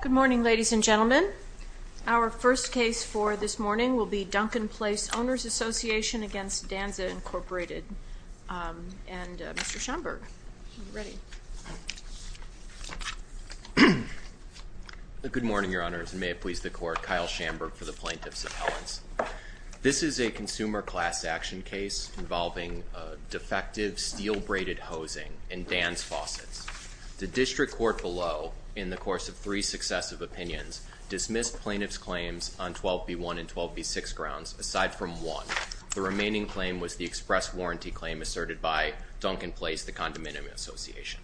Good morning, ladies and gentlemen. Our first case for this morning will be Duncan Place Owners Association v. Danze, Inc. And Mr. Schamberg, are you ready? Good morning, Your Honors, and may it please the Court, Kyle Schamberg for the Plaintiffs Appellants. This is a consumer class action case involving defective steel braided hosing in Danze Faucets. The district court below, in the course of three successive opinions, dismissed plaintiff's claims on 12B1 and 12B6 grounds, aside from one. The remaining claim was the express warranty claim asserted by Duncan Place, the condominium association.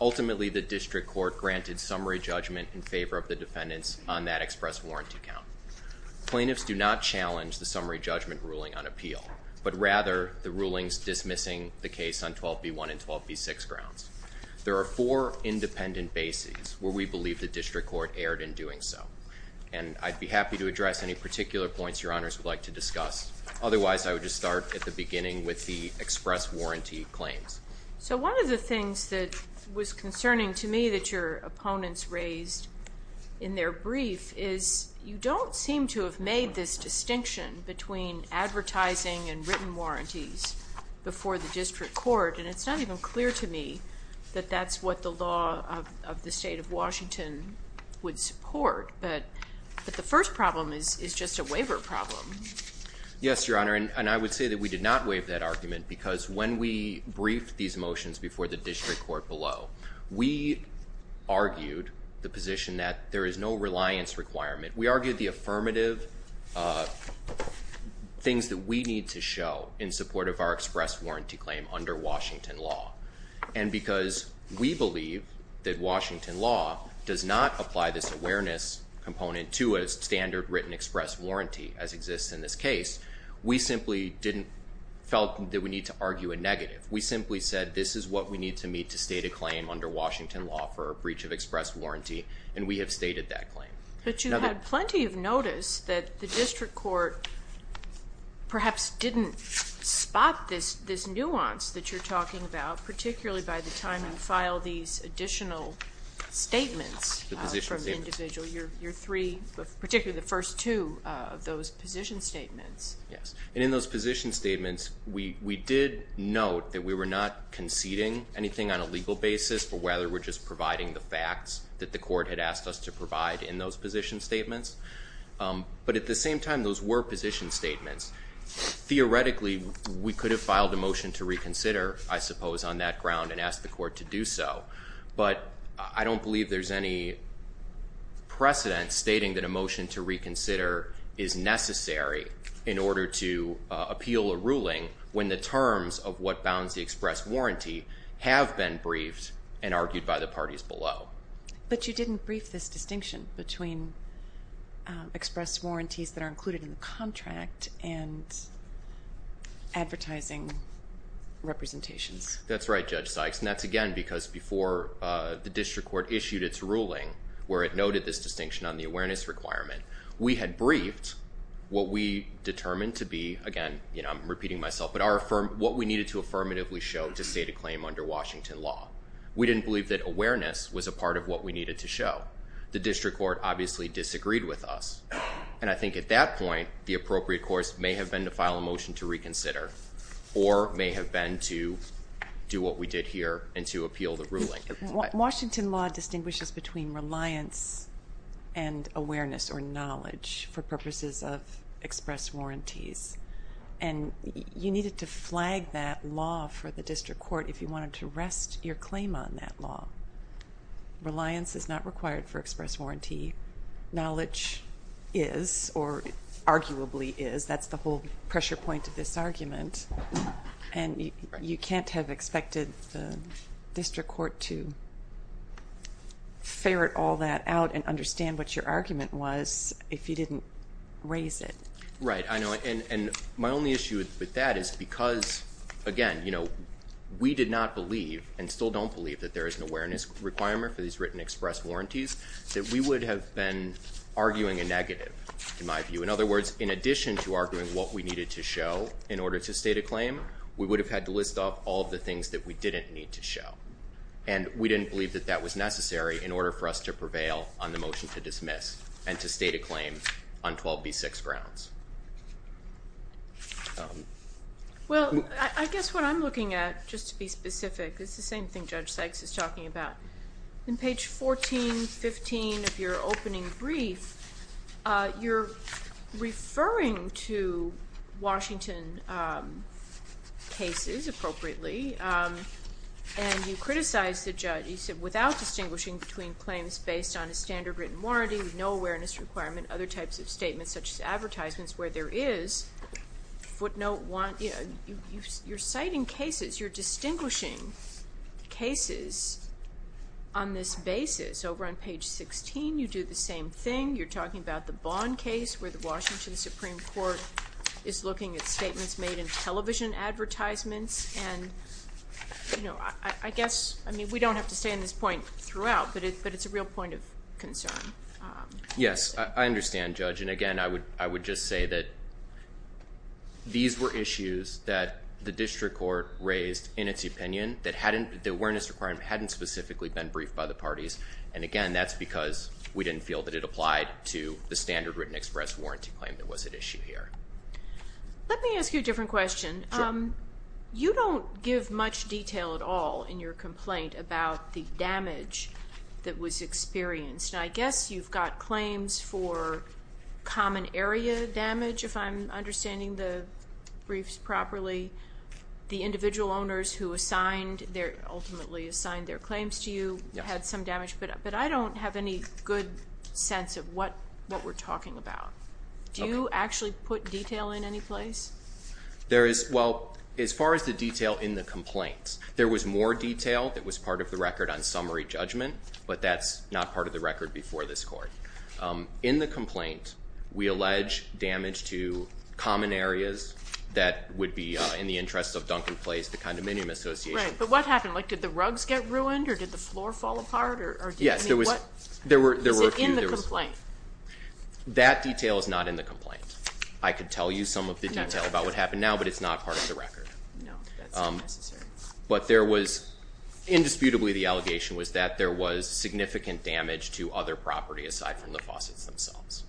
Ultimately, the district court granted summary judgment in favor of the defendants on that express warranty count. Plaintiffs do not challenge the summary judgment ruling on appeal, but rather the rulings dismissing the case on 12B1 and 12B6 grounds. There are four independent bases where we believe the district court erred in doing so. And I'd be happy to address any particular points Your Honors would like to discuss. Otherwise, I would just start at the beginning with the express warranty claims. So one of the things that was concerning to me that your opponents raised in their brief is you don't seem to have made this distinction between advertising and that that's what the law of the state of Washington would support. But the first problem is just a waiver problem. Yes, Your Honor, and I would say that we did not waive that argument, because when we briefed these motions before the district court below, we argued the position that there is no reliance requirement. We argued the affirmative things that we need to show in support of our express warranty claim under Washington law. And because we believe that Washington law does not apply this awareness component to a standard written express warranty as exists in this case. We simply didn't felt that we need to argue a negative. We simply said this is what we need to meet to state a claim under Washington law for a breach of express warranty, and we have stated that claim. But you had plenty of notice that the district court perhaps didn't spot this nuance that you're talking about, particularly by the time you file these additional statements from the individual, your three, particularly the first two of those position statements. Yes, and in those position statements, we did note that we were not conceding anything on a legal basis for whether we're just providing the facts that the court had asked us to provide in those position statements. But at the same time, those were position statements. Theoretically, we could have filed a motion to reconsider, I suppose, on that ground and ask the court to do so. But I don't believe there's any precedent stating that a motion to reconsider is necessary in order to appeal a ruling when the terms of what bounds the express warranty have been briefed and argued by the parties below. But you didn't brief this distinction between express warranties that are included in the contract and advertising representations. That's right, Judge Sykes, and that's again because before the district court issued its ruling where it noted this distinction on the awareness requirement, we had briefed what we determined to be, again, I'm repeating myself, but what we needed to affirmatively show to state a claim under Washington law. We didn't believe that awareness was a part of what we needed to show. The district court obviously disagreed with us. And I think at that point, the appropriate course may have been to file a motion to reconsider or may have been to do what we did here and to appeal the ruling. Washington law distinguishes between reliance and awareness or knowledge for purposes of express warranties. And you needed to flag that law for the district court if you wanted to rest your claim on that law. Reliance is not required for express warranty. Knowledge is, or arguably is, that's the whole pressure point of this argument. And you can't have expected the district court to ferret all that out and understand what your argument was if you didn't raise it. Right, I know, and my only issue with that is because, again, we did not believe, and still don't believe, that there is an awareness requirement for these written express warranties. That we would have been arguing a negative, in my view. In other words, in addition to arguing what we needed to show in order to state a claim, we would have had to list off all of the things that we didn't need to show. And we didn't believe that that was necessary in order for us to prevail on the motion to dismiss and to state a claim on 12B6 grounds. Well, I guess what I'm looking at, just to be specific, is the same thing Judge Sykes is talking about. In page 14, 15 of your opening brief, you're referring to Washington cases, appropriately. And you criticize the judge, you said, without distinguishing between claims based on a standard written warranty, no awareness requirement, other types of statements such as advertisements where there is footnote, you're citing cases, you're distinguishing cases on this basis. Over on page 16, you do the same thing. You're talking about the Bond case where the Washington Supreme Court is looking at statements made in television advertisements. And I guess, I mean, we don't have to stay on this point throughout, but it's a real point of concern. Yes, I understand, Judge. And again, I would just say that these were issues that the district court raised in its opinion, that the awareness requirement hadn't specifically been briefed by the parties. And again, that's because we didn't feel that it applied to the standard written express warranty claim that was at issue here. Let me ask you a different question. Sure. You don't give much detail at all in your complaint about the damage that was experienced. And I guess you've got claims for common area damage, if I'm understanding the briefs properly. The individual owners who ultimately assigned their claims to you had some damage. But I don't have any good sense of what we're talking about. Do you actually put detail in any place? There is, well, as far as the detail in the complaints, there was more detail that was part of the record on summary judgment. But that's not part of the record before this court. In the complaint, we allege damage to common areas that would be in the interest of Duncan Place, the condominium association. Right, but what happened? Like, did the rugs get ruined, or did the floor fall apart, or? Yes, there were a few. Is it in the complaint? That detail is not in the complaint. I could tell you some of the detail about what happened now, but it's not part of the record. No, that's not necessary. But there was, indisputably, the allegation was that there was significant damage to other property aside from the faucets themselves.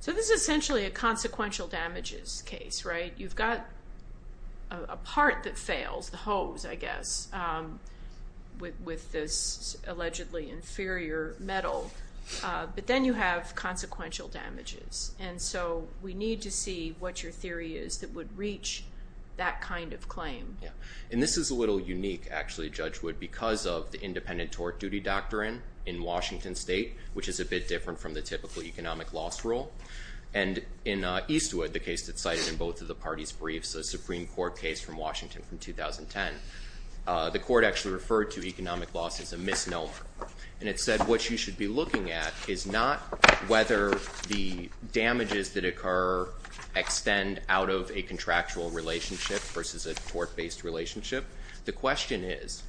So this is essentially a consequential damages case, right? You've got a part that fails, the hose, I guess, with this allegedly inferior metal. But then you have consequential damages. And so we need to see what your theory is that would reach that kind of claim. And this is a little unique, actually, Judge Wood, because of the independent tort duty doctrine in Washington State, which is a bit different from the typical economic loss rule. And in Eastwood, the case that's cited in both of the parties' briefs, a Supreme Court case from Washington from 2010. The court actually referred to economic loss as a misnomer. And it said what you should be looking at is not whether the damages that occur extend out of a contractual relationship versus a tort-based relationship. The question is,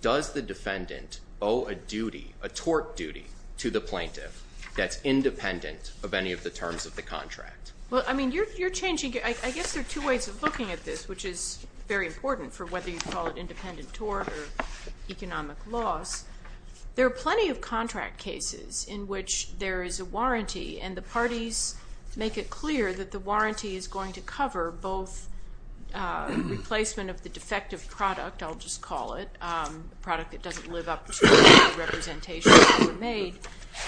does the defendant owe a duty, a tort duty, to the plaintiff that's independent of any of the terms of the contract? Well, I mean, you're changing, I guess there are two ways of looking at this, which is very important for whether you call it independent tort or economic loss. There are plenty of contract cases in which there is a warranty, and the parties make it clear that the warranty is going to cover both replacement of the defective product, I'll just call it, product that doesn't live up to the representations that were made,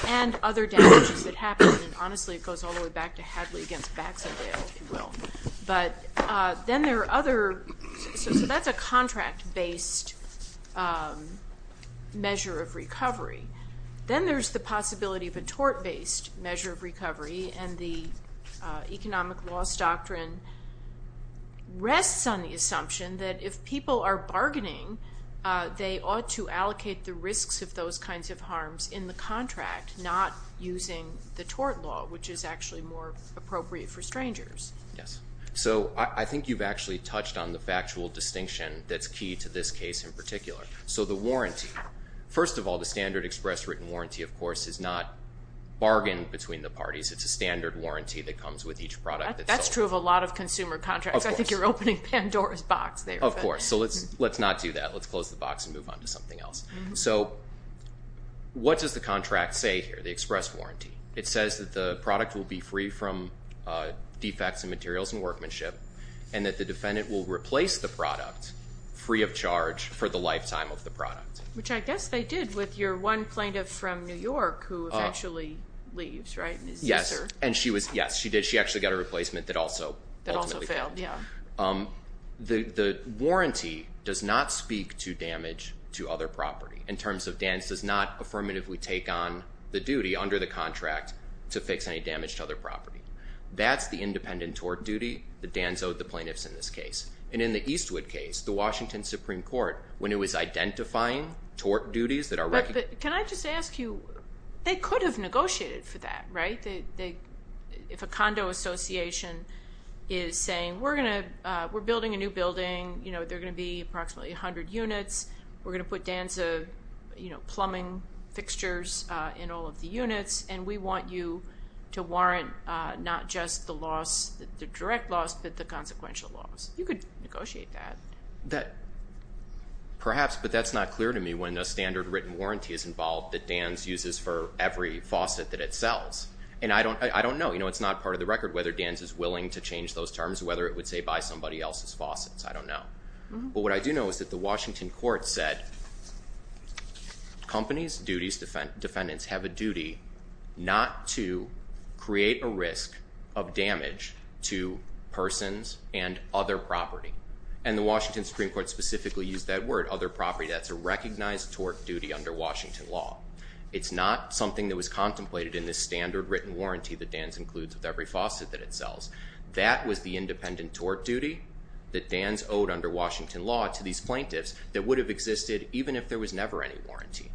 and other damages that happen. Honestly, it goes all the way back to Hadley against Baxendale, if you will. But then there are other, so that's a contract-based measure of recovery. Then there's the possibility of a tort-based measure of recovery, and the economic loss doctrine rests on the assumption that if people are bargaining, they ought to allocate the risks of those kinds of harms in the contract, not using the tort law, which is actually more appropriate for strangers. Yes, so I think you've actually touched on the factual distinction that's key to this case in particular. So the warranty, first of all, the standard express written warranty, of course, is not bargained between the parties. It's a standard warranty that comes with each product. That's true of a lot of consumer contracts. I think you're opening Pandora's box there. Of course, so let's not do that. Let's close the box and move on to something else. So what does the contract say here, the express warranty? It says that the product will be free from defects and materials and workmanship, and that the defendant will replace the product free of charge for the lifetime of the product. Which I guess they did with your one plaintiff from New York who eventually leaves, right? Yes, and she was, yes, she did. She actually got a replacement that also- That also failed, yeah. The warranty does not speak to damage to other property, in terms of Dan does not affirmatively take on the duty under the contract to fix any damage to other property. That's the independent tort duty that Dan's owed the plaintiffs in this case. And in the Eastwood case, the Washington Supreme Court, when it was identifying tort duties that are- Can I just ask you, they could have negotiated for that, right? If a condo association is saying, we're building a new building, they're going to be approximately 100 units. We're going to put Dan's plumbing fixtures in all of the units, and we want you to warrant not just the loss, the direct loss, but the consequential loss. You could negotiate that. Perhaps, but that's not clear to me when the standard written warranty is involved that Dan's uses for every faucet that it sells. And I don't know, it's not part of the record whether Dan's is willing to change those terms, whether it would say buy somebody else's faucets, I don't know. But what I do know is that the Washington court said, companies, duties, defendants have a duty not to create a risk of damage to persons and other property. And the Washington Supreme Court specifically used that word, other property, that's a recognized tort duty under Washington law. It's not something that was contemplated in this standard written warranty that Dan's includes with every faucet that it sells. That was the independent tort duty that Dan's owed under Washington law to these plaintiffs that would have existed even if there was never any warranty.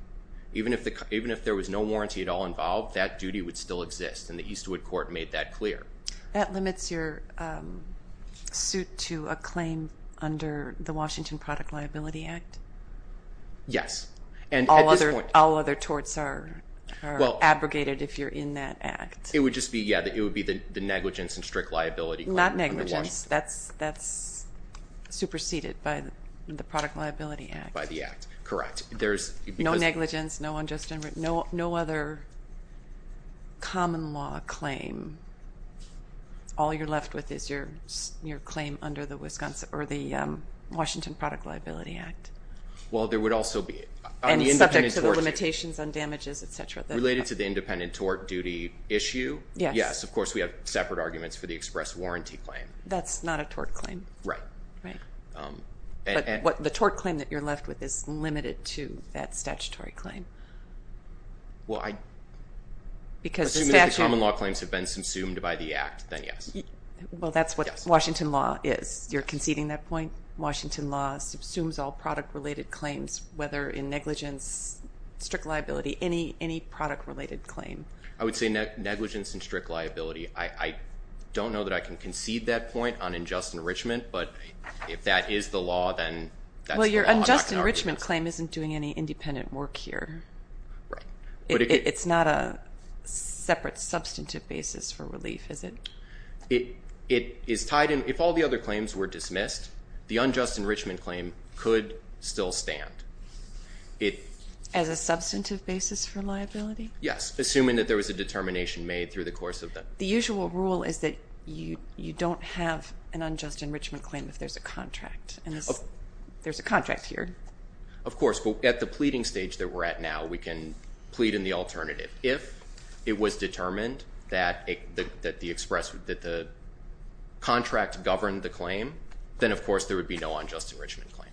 Even if there was no warranty at all involved, that duty would still exist, and the Eastwood court made that clear. That limits your suit to a claim under the Washington Product Liability Act? Yes, and at this point- All other torts are abrogated if you're in that act. It would just be, yeah, it would be the negligence and strict liability claim under Washington. Not negligence, that's superseded by the Product Liability Act. By the act, correct. No negligence, no other common law claim, all you're left with is your claim under the Wisconsin or the Washington Product Liability Act. Well, there would also be- And subject to the limitations on damages, et cetera. Related to the independent tort duty issue? Yes. Yes, of course, we have separate arguments for the express warranty claim. That's not a tort claim. Right. Right. But the tort claim that you're left with is limited to that statutory claim. Well, I- Because the statute- Assuming that the common law claims have been subsumed by the act, then yes. Well, that's what Washington law is. You're conceding that point? Washington law subsumes all product-related claims, whether in negligence, strict liability, any product-related claim. I would say negligence and strict liability. I don't know that I can concede that point on unjust enrichment, but if that is the law, then that's the law. Well, your unjust enrichment claim isn't doing any independent work here. Right. It's not a separate substantive basis for relief, is it? It is tied in- If all the other claims were dismissed, the unjust enrichment claim could still stand. As a substantive basis for liability? Yes, assuming that there was a determination made through the course of the- The usual rule is that you don't have an unjust enrichment claim if there's a contract, and there's a contract here. Of course, but at the pleading stage that we're at now, we can plead in the alternative. If it was determined that the contract governed the claim, then of course there would be no unjust enrichment claim.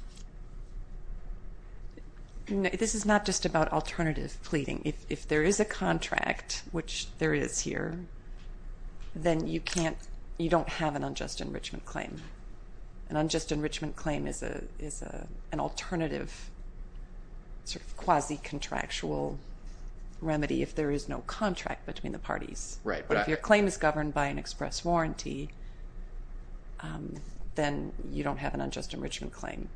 This is not just about alternative pleading. If there is a contract, which there is here, then you don't have an unjust enrichment claim. An unjust enrichment claim is an alternative quasi-contractual remedy if there is no contract between the parties. Right. But if your claim is governed by an express warranty, then you don't have an unjust enrichment claim.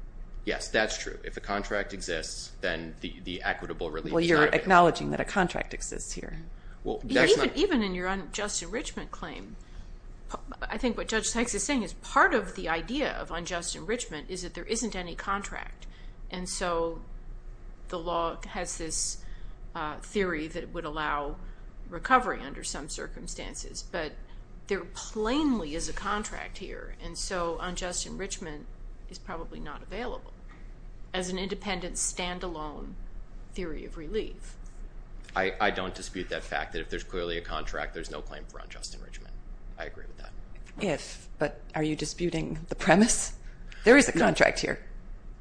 Yes, that's true. If a contract exists, then the equitable relief- Well, you're acknowledging that a contract exists here. Well, that's not- Even in your unjust enrichment claim, I think what Judge Sykes is saying is part of the idea of unjust enrichment is that there isn't any contract. And so the law has this theory that it would allow recovery under some circumstances, but there plainly is a contract here. And so unjust enrichment is probably not available as an independent, standalone theory of relief. I don't dispute that fact that if there's clearly a contract, there's no claim for unjust enrichment. I agree with that. If, but are you disputing the premise? There is a contract here.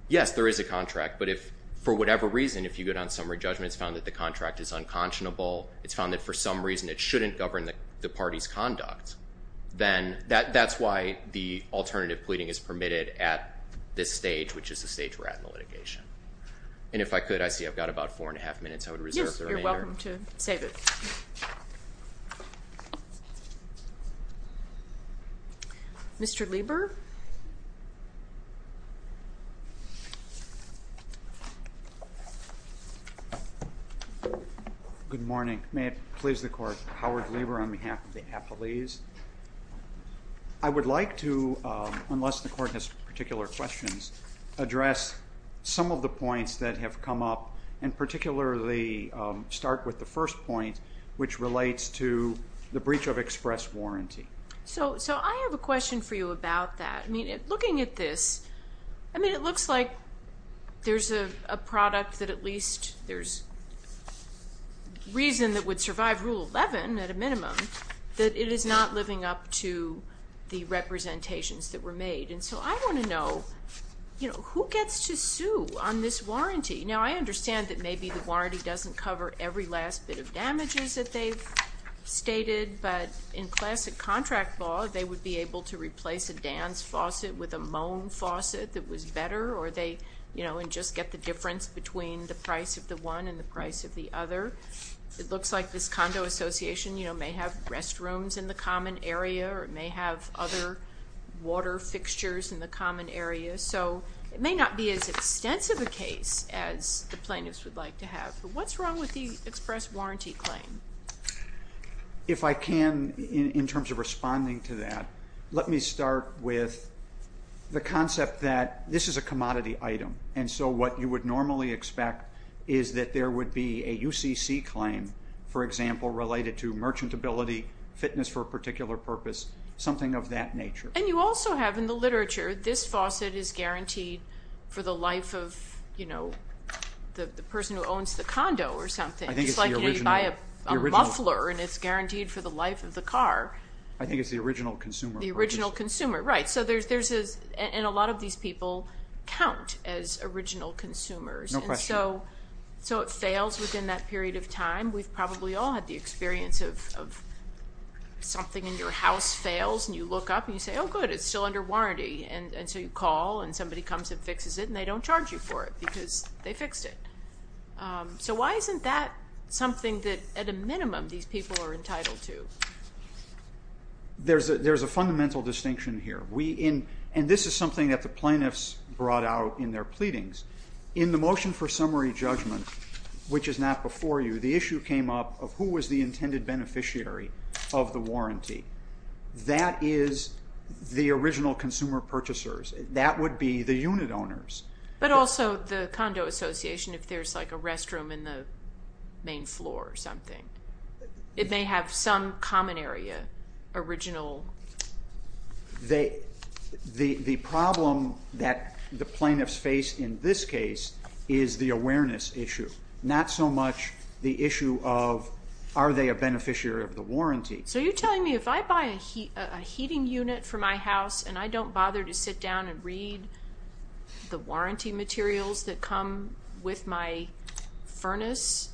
Yes, there is a contract. But if for whatever reason, if you get on summary judgment, it's found that the contract is unconscionable, it's found that for some reason it shouldn't govern the party's conduct, then that's why the alternative pleading is permitted at this stage, which is the stage we're at in the litigation. And if I could, I see I've got about four and a half minutes, I would reserve the remainder. Yes, you're welcome to save it. Mr. Lieber? Good morning. May it please the Court, Howard Lieber on behalf of the Appellees. I would like to, unless the Court has particular questions, address some of the points that have come up and particularly start with the first point, which relates to the breach of express warranty. So I have a question for you about that. Looking at this, it looks like there's a product that at least there's reason that would survive Rule 11 at a minimum, that it is not living up to the representations that were made. And so I want to know, who gets to sue on this warranty? Now, I understand that maybe the warranty doesn't cover every last bit of damages that they've But in classic contract law, they would be able to replace a Dan's faucet with a Moan faucet that was better, or they, you know, and just get the difference between the price of the one and the price of the other. It looks like this condo association, you know, may have restrooms in the common area, or it may have other water fixtures in the common area. So it may not be as extensive a case as the plaintiffs would like to have. But what's wrong with the express warranty claim? And if I can, in terms of responding to that, let me start with the concept that this is a commodity item. And so what you would normally expect is that there would be a UCC claim, for example, related to merchantability, fitness for a particular purpose, something of that nature. And you also have in the literature, this faucet is guaranteed for the life of, you know, the person who owns the condo or something. It's like you buy a muffler and it's guaranteed for the life of the car. I think it's the original consumer. The original consumer, right. So there's this, and a lot of these people count as original consumers. No question. So it fails within that period of time. We've probably all had the experience of something in your house fails and you look up and you say, oh good, it's still under warranty. And so you call and somebody comes and fixes it and they don't charge you for it because they fixed it. So why isn't that something that at a minimum these people are entitled to? There's a fundamental distinction here. And this is something that the plaintiffs brought out in their pleadings. In the motion for summary judgment, which is not before you, the issue came up of who was the intended beneficiary of the warranty. That is the original consumer purchasers. That would be the unit owners. But also the condo association if there's like a restroom in the main floor or something. It may have some common area, original. The problem that the plaintiffs face in this case is the awareness issue. Not so much the issue of are they a beneficiary of the warranty. So you're telling me if I buy a heating unit for my house and I don't bother to sit down and read the warranty materials that come with my furnace,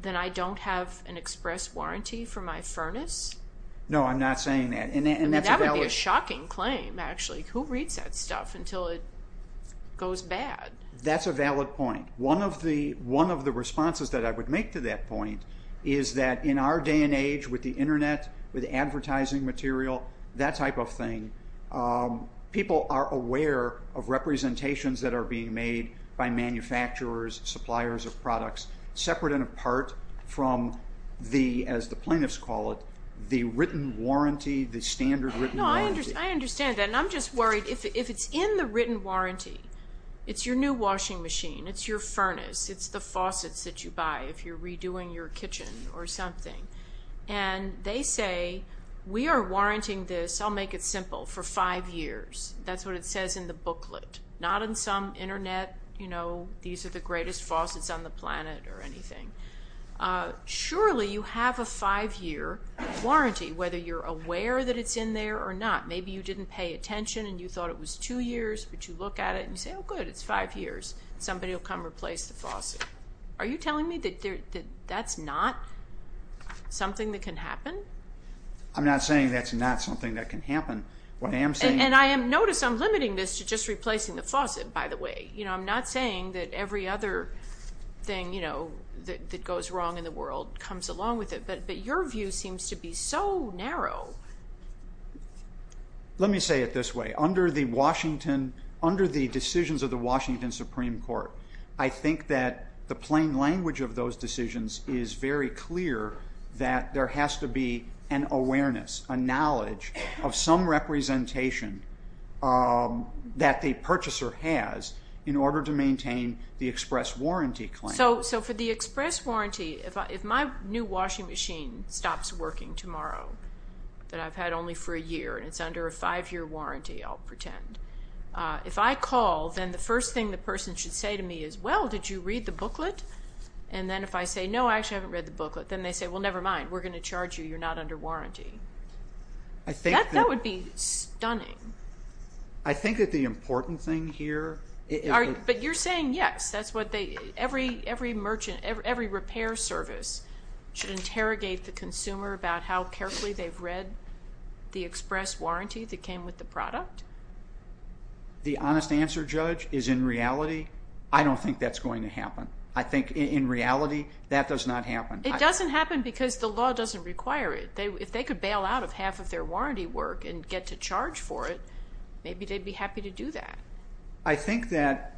then I don't have an express warranty for my furnace? No, I'm not saying that. And that would be a shocking claim actually. Who reads that stuff until it goes bad? That's a valid point. One of the responses that I would make to that point is that in our day and age with internet, with advertising material, that type of thing, people are aware of representations that are being made by manufacturers, suppliers of products, separate and apart from the, as the plaintiffs call it, the written warranty, the standard written warranty. I understand that. And I'm just worried if it's in the written warranty, it's your new washing machine, it's your furnace, it's the faucets that you buy if you're redoing your kitchen or something. And they say, we are warranting this, I'll make it simple, for five years. That's what it says in the booklet. Not in some internet, you know, these are the greatest faucets on the planet or anything. Surely you have a five year warranty, whether you're aware that it's in there or not. Maybe you didn't pay attention and you thought it was two years, but you look at it and you say, oh good, it's five years. Somebody will come replace the faucet. Are you telling me that that's not? Something that can happen? I'm not saying that's not something that can happen. What I am saying. And I am, notice I'm limiting this to just replacing the faucet, by the way. You know, I'm not saying that every other thing, you know, that goes wrong in the world comes along with it, but your view seems to be so narrow. Let me say it this way. Under the Washington, under the decisions of the Washington Supreme Court, I think that the plain language of those decisions is very clear that there has to be an awareness, a knowledge of some representation that the purchaser has in order to maintain the express warranty claim. So for the express warranty, if my new washing machine stops working tomorrow, that I've had only for a year and it's under a five year warranty, I'll pretend. If I call, then the first thing the person should say to me is, well, did you read the booklet? And then if I say, no, I actually haven't read the booklet, then they say, well, never mind, we're going to charge you, you're not under warranty. That would be stunning. I think that the important thing here. But you're saying yes, that's what they, every merchant, every repair service should interrogate the consumer about how carefully they've read the express warranty that came with the product? The honest answer, Judge, is in reality, I don't think that's going to happen. In reality, that does not happen. It doesn't happen because the law doesn't require it. If they could bail out of half of their warranty work and get to charge for it, maybe they'd be happy to do that. I think that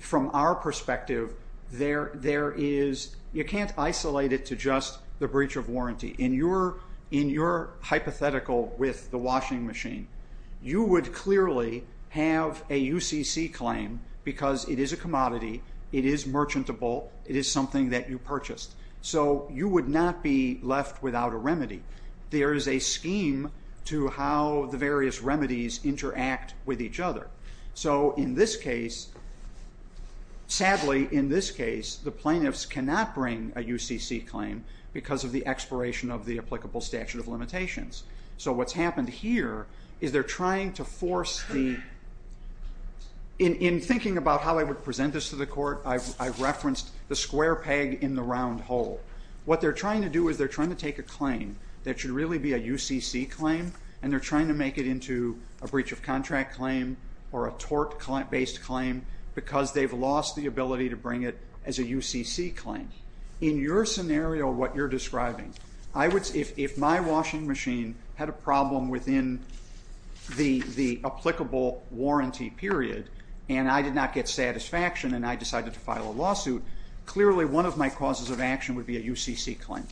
from our perspective, you can't isolate it to just the breach of warranty. In your hypothetical with the washing machine, you would clearly have a UCC claim because it is a commodity, it is merchantable, it is something that you purchased. So you would not be left without a remedy. There is a scheme to how the various remedies interact with each other. So in this case, sadly, in this case, the plaintiffs cannot bring a UCC claim because So what's happened here is they're trying to force the, in thinking about how I would present this to the court, I referenced the square peg in the round hole. What they're trying to do is they're trying to take a claim that should really be a UCC claim and they're trying to make it into a breach of contract claim or a tort-based claim because they've lost the ability to bring it as a UCC claim. In your scenario, what you're describing, I would, if my washing machine had a problem within the applicable warranty period and I did not get satisfaction and I decided to file a lawsuit, clearly one of my causes of action would be a UCC claim.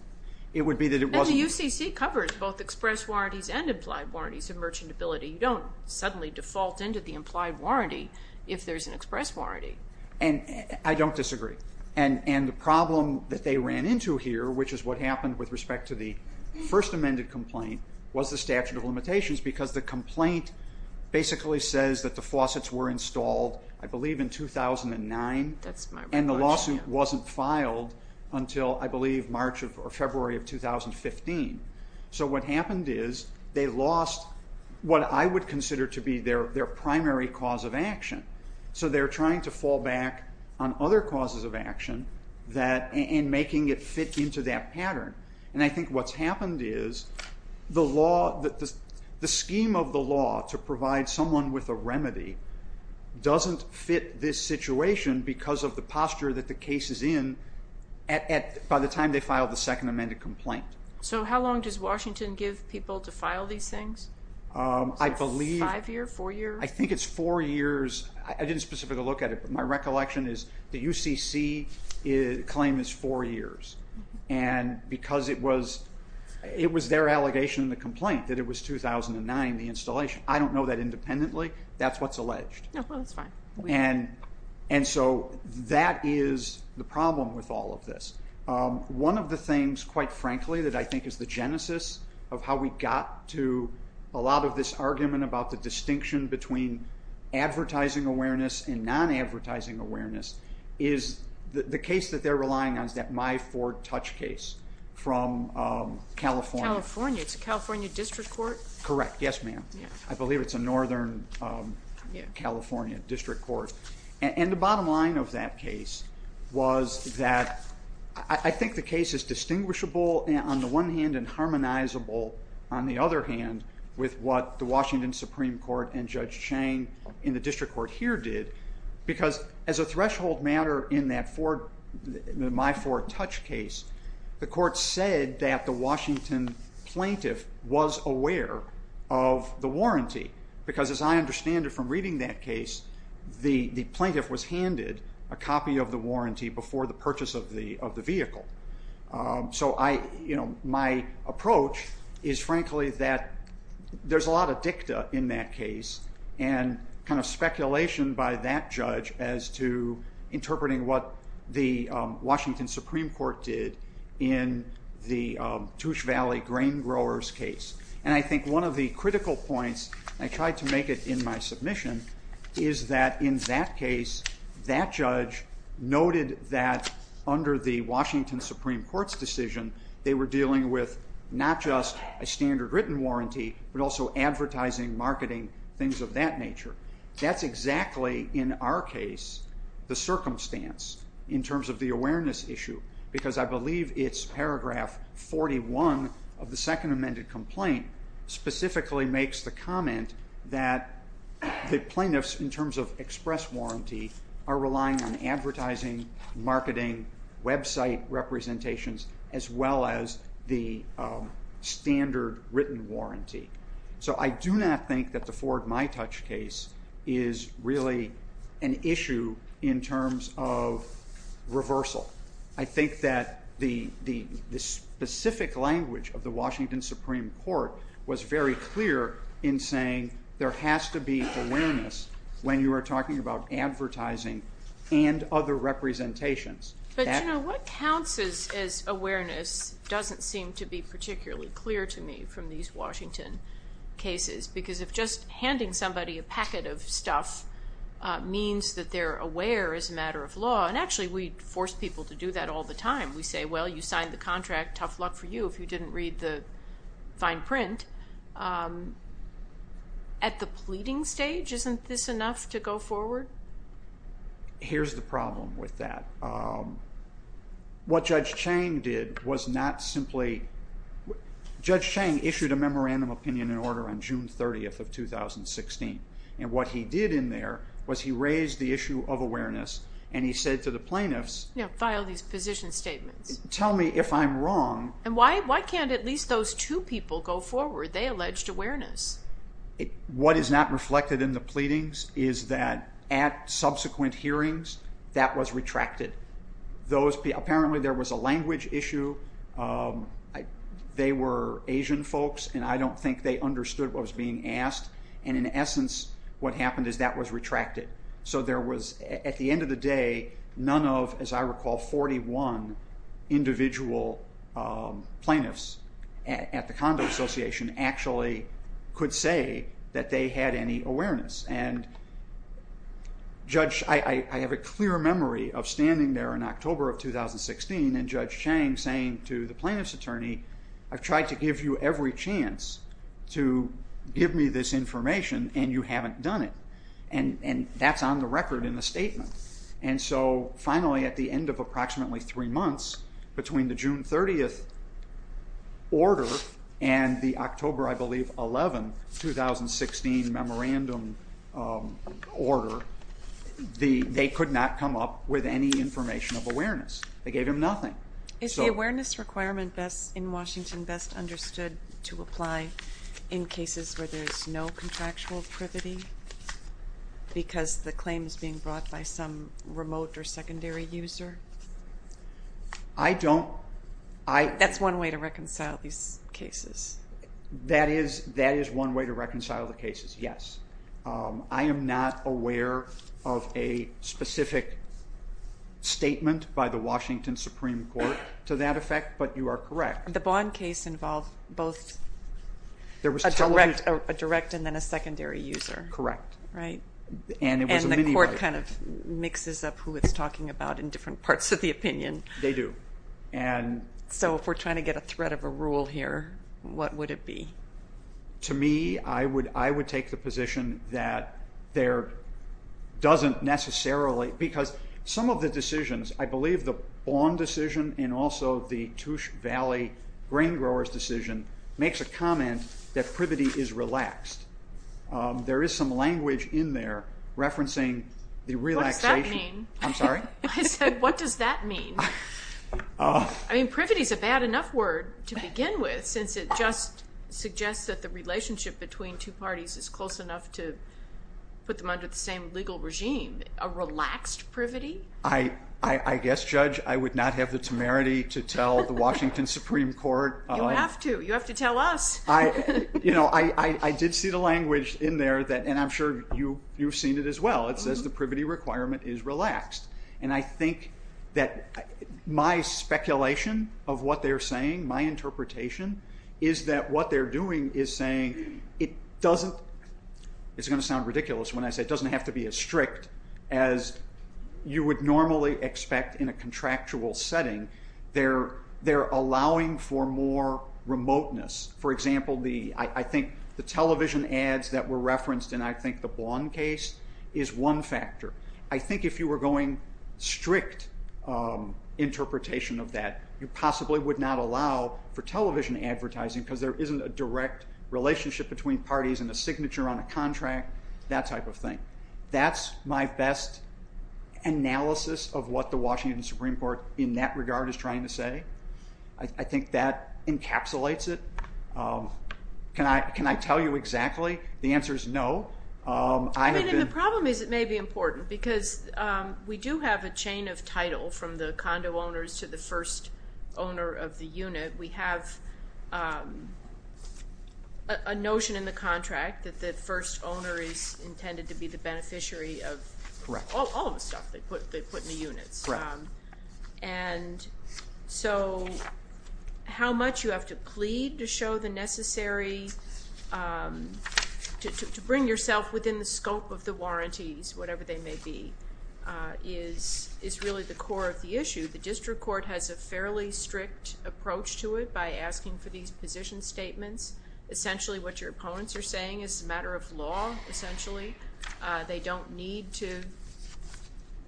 It would be that it wasn't- And the UCC covers both express warranties and implied warranties of merchantability. You don't suddenly default into the implied warranty if there's an express warranty. And I don't disagree. And the problem that they ran into here, which is what happened with respect to the first amended complaint, was the statute of limitations because the complaint basically says that the faucets were installed, I believe, in 2009 and the lawsuit wasn't filed until, I believe, March or February of 2015. So what happened is they lost what I would consider to be their primary cause of action. So they're trying to fall back on other causes of action and making it fit into that pattern. And I think what's happened is the scheme of the law to provide someone with a remedy doesn't fit this situation because of the posture that the case is in by the time they filed the second amended complaint. So how long does Washington give people to file these things? I believe- Five years, four years? I think it's four years. I didn't specifically look at it, but my recollection is the UCC claim is four years. And because it was their allegation in the complaint that it was 2009, the installation, I don't know that independently. That's what's alleged. No, that's fine. And so that is the problem with all of this. One of the things, quite frankly, that I think is the genesis of how we got to a lot of this between advertising awareness and non-advertising awareness is the case that they're relying on is that My Ford Touch case from California. California. It's a California district court? Correct. Yes, ma'am. I believe it's a Northern California district court. And the bottom line of that case was that I think the case is distinguishable on the one hand and harmonizable on the other hand with what the Washington Supreme Court and Judge Chang in the district court here did. Because as a threshold matter in that My Ford Touch case, the court said that the Washington plaintiff was aware of the warranty. Because as I understand it from reading that case, the plaintiff was handed a copy of the warranty before the purchase of the vehicle. So my approach is, frankly, that there's a lot of dicta in that case and kind of speculation by that judge as to interpreting what the Washington Supreme Court did in the Touch Valley grain growers case. And I think one of the critical points, I tried to make it in my submission, is that in that case, that judge noted that under the Washington Supreme Court's decision, they were dealing with not just a standard written warranty, but also advertising, marketing, things of that nature. That's exactly, in our case, the circumstance in terms of the awareness issue. Because I believe it's paragraph 41 of the second amended complaint specifically makes the comment that the plaintiffs, in terms of express warranty, are relying on advertising, marketing, website representations, as well as the standard written warranty. So I do not think that the Ford My Touch case is really an issue in terms of reversal. I think that the specific language of the Washington Supreme Court was very clear in saying there has to be awareness when you are talking about advertising and other representations. But what counts as awareness doesn't seem to be particularly clear to me from these Washington cases. Because if just handing somebody a packet of stuff means that they're aware as a matter of law, and actually we force people to do that all the time. We say, well, you signed the contract, tough luck for you if you didn't read the fine print. At the pleading stage, isn't this enough to go forward? Here's the problem with that. What Judge Chang did was not simply, Judge Chang issued a memorandum opinion in order on June 30th of 2016. And what he did in there was he raised the issue of awareness and he said to the plaintiffs, tell me if I'm wrong. And why can't at least those two people go forward? They alleged awareness. What is not reflected in the pleadings is that at subsequent hearings, that was retracted. Apparently there was a language issue. They were Asian folks and I don't think they understood what was being asked. And in essence, what happened is that was retracted. So at the end of the day, none of, as I recall, 41 individual plaintiffs at the Condo Association actually could say that they had any awareness. And I have a clear memory of standing there in October of 2016 and Judge Chang saying to the plaintiff's attorney, I've tried to give you every chance to give me this information and you haven't done it. And that's on the record in the statement. And so finally, at the end of approximately three months, between the June 30th order and the October, I believe, 11, 2016 memorandum order, they could not come up with any information of awareness. They gave him nothing. Is the awareness requirement in Washington best understood to apply in cases where there's no contractual privity because the claim is being brought by some remote or secondary user? I don't. That's one way to reconcile these cases. That is one way to reconcile the cases, yes. I am not aware of a specific statement by the Washington Supreme Court to that effect, but you are correct. The Bond case involved both a direct and then a secondary user. Correct. Right? And the court kind of mixes up who it's talking about in different parts of the opinion. They do. So if we're trying to get a thread of a rule here, what would it be? To me, I would take the position that there doesn't necessarily, because some of the decisions, I believe the Bond decision and also the Touche Valley grain growers decision makes a comment that privity is relaxed. There is some language in there referencing the relaxation. What does that mean? I'm sorry? I said, what does that mean? I mean, privity is a bad enough word to begin with, since it just suggests that the relationship between two parties is close enough to put them under the same legal regime. A relaxed privity? I guess, Judge, I would not have the temerity to tell the Washington Supreme Court. You have to. You have to tell us. I did see the language in there that, and I'm sure you've seen it as well, it says the privity requirement is relaxed. And I think that my speculation of what they're saying, my interpretation, is that what they're doing is saying it doesn't, it's going to sound ridiculous when I say it doesn't have to be as strict as you would normally expect in a contractual setting. They're allowing for more remoteness. For example, I think the television ads that were referenced in, I think, the Bond case is one factor. I think if you were going strict interpretation of that, you possibly would not allow for television advertising, because there isn't a direct relationship between parties and a signature on a contract, that type of thing. That's my best analysis of what the Washington Supreme Court, in that regard, is trying to say. I think that encapsulates it. Can I tell you exactly? The answer is no. I mean, and the problem is it may be important, because we do have a chain of title from the condo owners to the first owner of the unit. We have a notion in the contract that the first owner is intended to be the beneficiary of all of the stuff they put in the units. Right. And so how much you have to plead to show the necessary, to bring yourself within the scope of the warranties, whatever they may be, is really the core of the issue. The district court has a fairly strict approach to it by asking for these position statements. Essentially, what your opponents are saying is a matter of law, essentially. They don't need to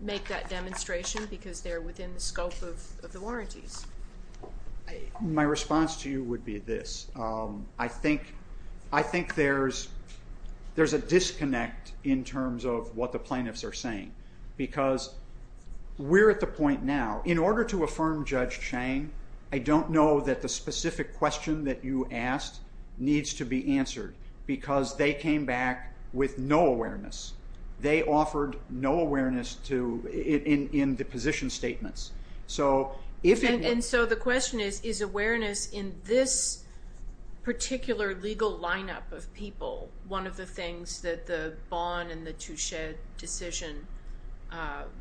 make that demonstration, because they're within the scope of the warranties. My response to you would be this. I think there's a disconnect in terms of what the plaintiffs are saying. Because we're at the point now, in order to affirm Judge Chang, I don't know that the They offered no awareness in the position statements. And so the question is, is awareness in this particular legal lineup of people one of the things that the Bonn and the Touchet decision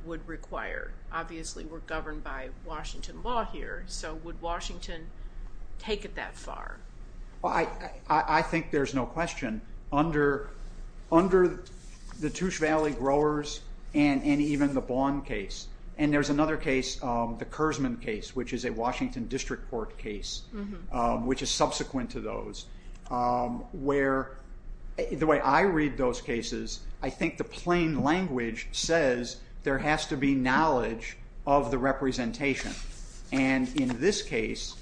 would require? Obviously, we're governed by Washington law here. So would Washington take it that far? I think there's no question. Under the Touchet Valley growers and even the Bonn case. And there's another case, the Kurzman case, which is a Washington district court case, which is subsequent to those. The way I read those cases, I think the plain language says there has to be knowledge of the representation. And in this case,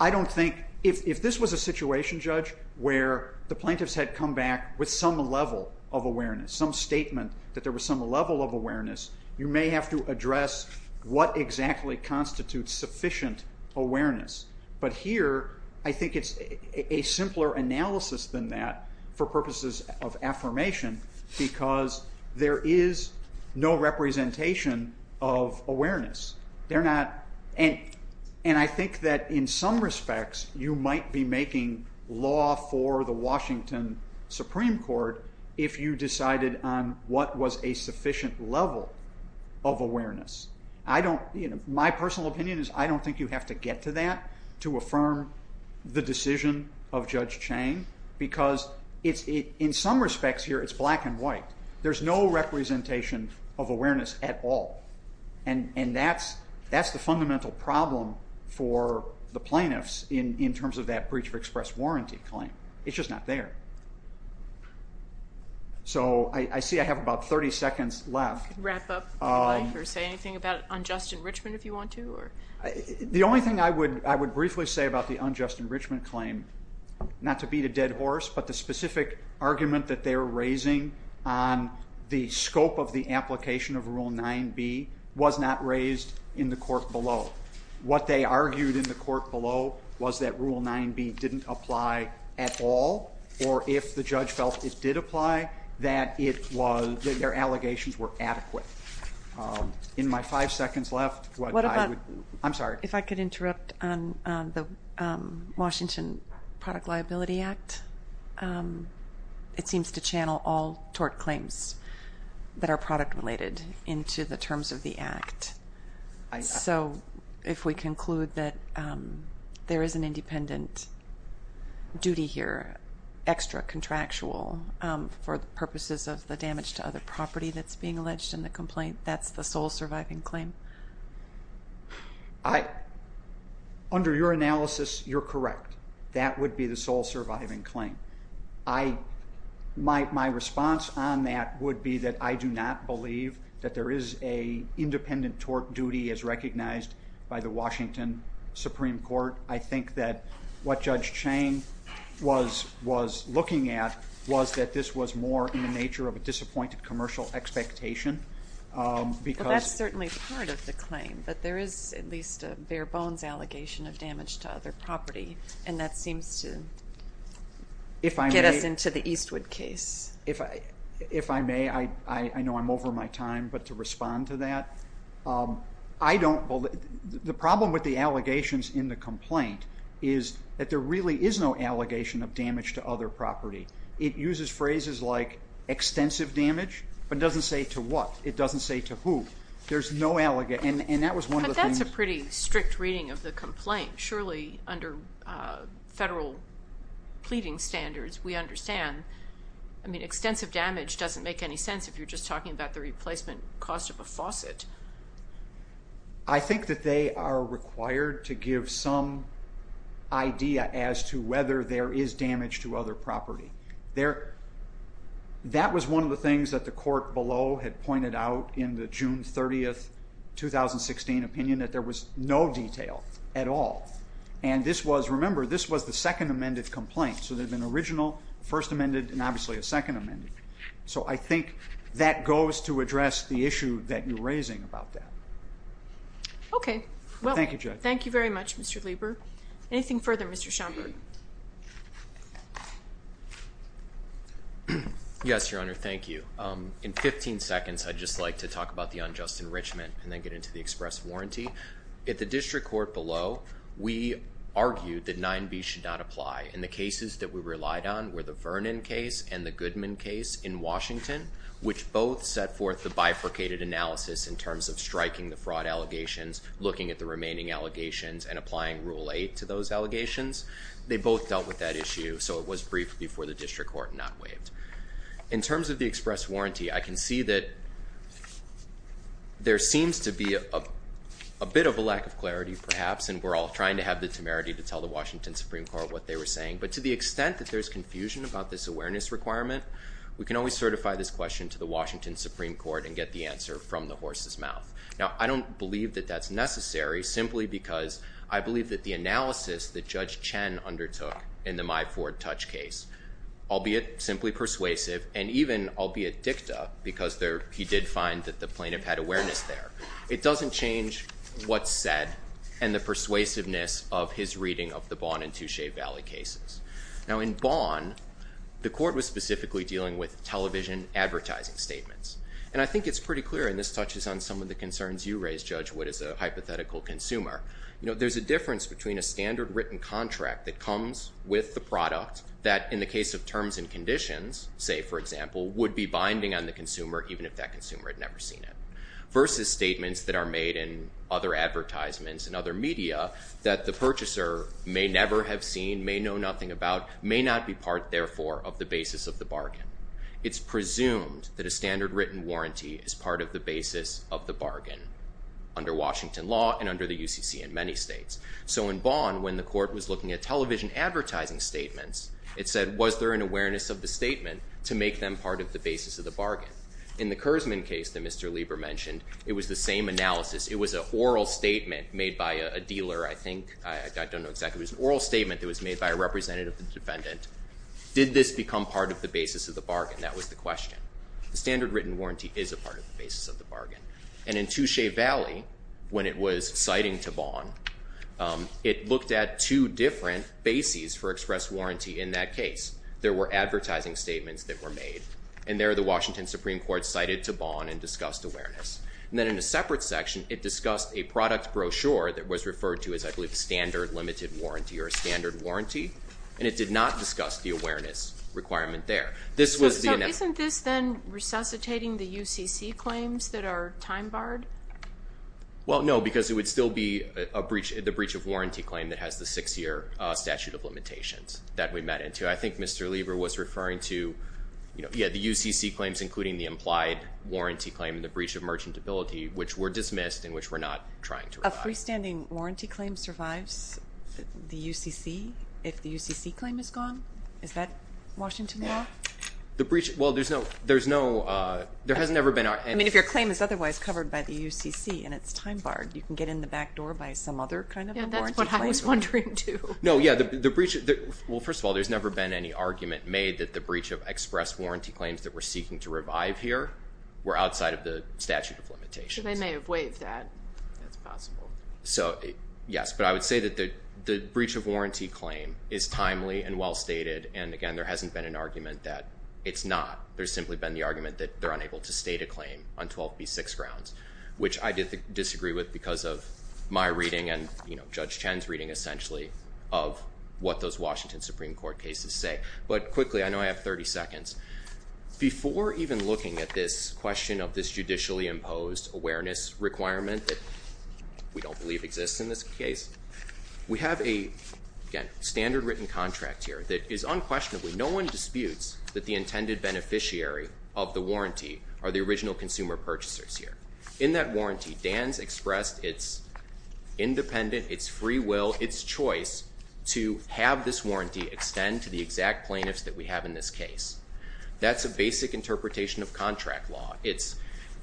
I don't think, if this was a situation, Judge, where the plaintiffs had come back with some level of awareness, some statement that there was some level of awareness, you may have to address what exactly constitutes sufficient awareness. But here, I think it's a simpler analysis than that for purposes of affirmation. Because there is no representation of awareness. And I think that in some respects, you might be making law for the Washington Supreme Court if you decided on what was a sufficient level of awareness. My personal opinion is I don't think you have to get to that to affirm the decision of Judge Chang. Because in some respects here, it's black and white. There's no representation of awareness at all. And that's the fundamental problem for the plaintiffs in terms of that Breach of Express Warranty claim. It's just not there. So I see I have about 30 seconds left. Wrap up or say anything about unjust enrichment if you want to? The only thing I would briefly say about the unjust enrichment claim, not to beat a dead horse, but the specific argument that they were raising on the scope of the application of Rule 9b was not raised in the court below. What they argued in the court below was that Rule 9b didn't apply at all. Or if the judge felt it did apply, that their allegations were adequate. In my five seconds left, I'm sorry. If I could interrupt on the Washington Product Liability Act. It seems to channel all tort claims that are product related into the terms of the Act. So if we conclude that there is an independent duty here, extra contractual for the purposes of the damage to other property that's being alleged in the complaint, that's the sole surviving claim? I, under your analysis, you're correct. That would be the sole surviving claim. I, my response on that would be that I do not believe that there is a independent tort duty as recognized by the Washington Supreme Court. I think that what Judge Chang was looking at was that this was more in the nature of a disappointed commercial expectation. Well, that's certainly part of the claim. But there is at least a bare bones allegation of damage to other property. And that seems to get us into the Eastwood case. If I may, I know I'm over my time. But to respond to that, the problem with the allegations in the complaint is that there really is no allegation of damage to other property. It uses phrases like extensive damage, but it doesn't say to what. It doesn't say to who. There's no allegation. And that was one of the things. But that's a pretty strict reading of the complaint. Surely, under federal pleading standards, we understand. I mean, extensive damage doesn't make any sense if you're just talking about the replacement cost of a faucet. I think that they are required to give some idea as to whether there is damage to other property. That was one of the things that the court below had pointed out in the June 30, 2016 opinion, that there was no detail at all. And remember, this was the second amended complaint. So there had been original, first amended, and obviously a second amended. So I think that goes to address the issue that you're raising about that. OK. Well, thank you very much, Mr. Lieber. Anything further, Mr. Schomburg? Yes, Your Honor. Thank you. In 15 seconds, I'd just like to talk about the unjust enrichment and then get into the express warranty. At the district court below, we argued that 9B should not apply. And the cases that we relied on were the Vernon case and the Goodman case in Washington, which both set forth the bifurcated analysis in terms of striking the fraud allegations, looking at the remaining allegations, and applying Rule 8 to those allegations. They both dealt with that issue. So it was brief before the district court not waived. In terms of the express warranty, I can see that there seems to be a bit of a lack of clarity, perhaps. And we're all trying to have the temerity to tell the Washington Supreme Court what they were saying. But to the extent that there's confusion about this awareness requirement, we can always certify this question to the Washington Supreme Court and get the answer from the horse's mouth. Now, I don't believe that that's necessary, simply because I believe that the analysis that Judge Chen undertook in the My Ford Touch case, albeit simply persuasive, and even albeit dicta, because he did find that the plaintiff had awareness there, it doesn't change what's said and the persuasiveness of his reading of the Bond and Touche Valley cases. Now, in Bond, the court was specifically dealing with television advertising statements. And I think it's pretty clear, and this touches on some of the concerns you raised, Judge Wood, as a hypothetical consumer. You know, there's a difference between a standard written contract that comes with the product that, in the case of terms and conditions, say, for example, would be binding on the consumer, even if that consumer had never seen it, versus statements that are made in other advertisements and other media that the purchaser may never have seen, may know nothing about, may not be part, therefore, of the basis of the bargain. It's presumed that a standard written warranty is part of the basis of the bargain under Washington law and under the UCC in many states. So in Bond, when the court was looking at television advertising statements, it said, was there an awareness of the statement to make them part of the basis of the bargain? In the Kurzman case that Mr. Lieber mentioned, it was the same analysis. It was an oral statement made by a dealer, I think, I don't know exactly, it was an oral statement that was made by a representative of the defendant. Did this become part of the basis of the bargain? That was the question. The standard written warranty is a part of the basis of the bargain. And in Touche Valley, when it was citing to Bond, it looked at two different bases for express warranty in that case. There were advertising statements that were made, and there the Washington Supreme Court cited to Bond and discussed awareness. And then in a separate section, it discussed a product brochure that was referred to as, I believe, a standard limited warranty or a standard warranty, and it did not discuss the awareness requirement there. This was the analysis. Is this then resuscitating the UCC claims that are time barred? Well, no, because it would still be the breach of warranty claim that has the six-year statute of limitations that we met into. I think Mr. Lieber was referring to, yeah, the UCC claims, including the implied warranty claim and the breach of merchantability, which were dismissed and which we're not trying to revive. A freestanding warranty claim survives the UCC if the UCC claim is gone? Is that Washington law? The breach, well, there's no, there's no, there has never been, I mean, if your claim is otherwise covered by the UCC and it's time barred, you can get in the back door by some other kind of warranty claim. Yeah, that's what I was wondering, too. No, yeah, the breach, well, first of all, there's never been any argument made that the breach of express warranty claims that we're seeking to revive here were outside of the statute of limitations. So they may have waived that, that's possible. So yes, but I would say that the breach of warranty claim is timely and well stated, and again, there hasn't been an argument that it's not. There's simply been the argument that they're unable to state a claim on 12b6 grounds, which I disagree with because of my reading and, you know, Judge Chen's reading essentially of what those Washington Supreme Court cases say. But quickly, I know I have 30 seconds, before even looking at this question of this judicially imposed awareness requirement that we don't believe exists in this case, we have a, again, standard written contract here that is unquestionably, no one disputes that the intended beneficiary of the warranty are the original consumer purchasers here. In that warranty, Dan's expressed its independent, its free will, its choice to have this warranty extend to the exact plaintiffs that we have in this case. That's a basic interpretation of contract law.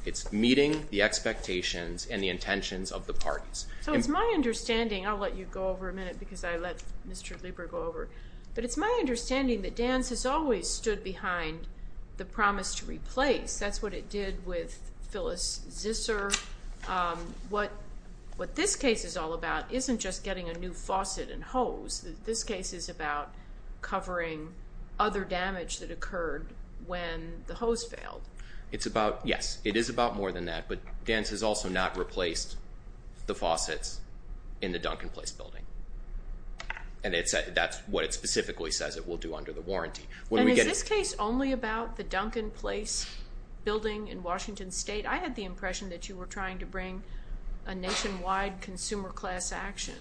It's meeting the expectations and the intentions of the parties. So it's my understanding, I'll let you go over a minute because I let Mr. Lieber go over, but it's my understanding that Dan's has always stood behind the promise to replace. That's what it did with Phyllis Zisser. What this case is all about isn't just getting a new faucet and hose. This case is about covering other damage that occurred when the hose failed. It's about, yes, it is about more than that, but Dan's has also not replaced the faucets in the Duncan Place building. And that's what it specifically says it will do under the warranty. When we get- And is this case only about the Duncan Place building in Washington State? I had the impression that you were trying to bring a nationwide consumer class action.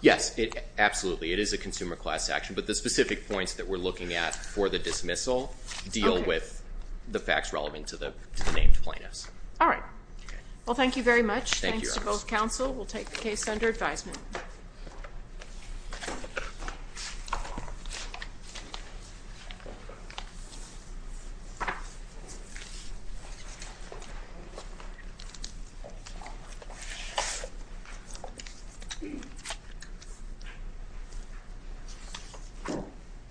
Yes, absolutely. It is a consumer class action, but the specific points that we're looking at for the dismissal deal with the facts relevant to the named plaintiffs. All right. Well, thank you very much. Thanks to both counsel. We'll take the case under advisement.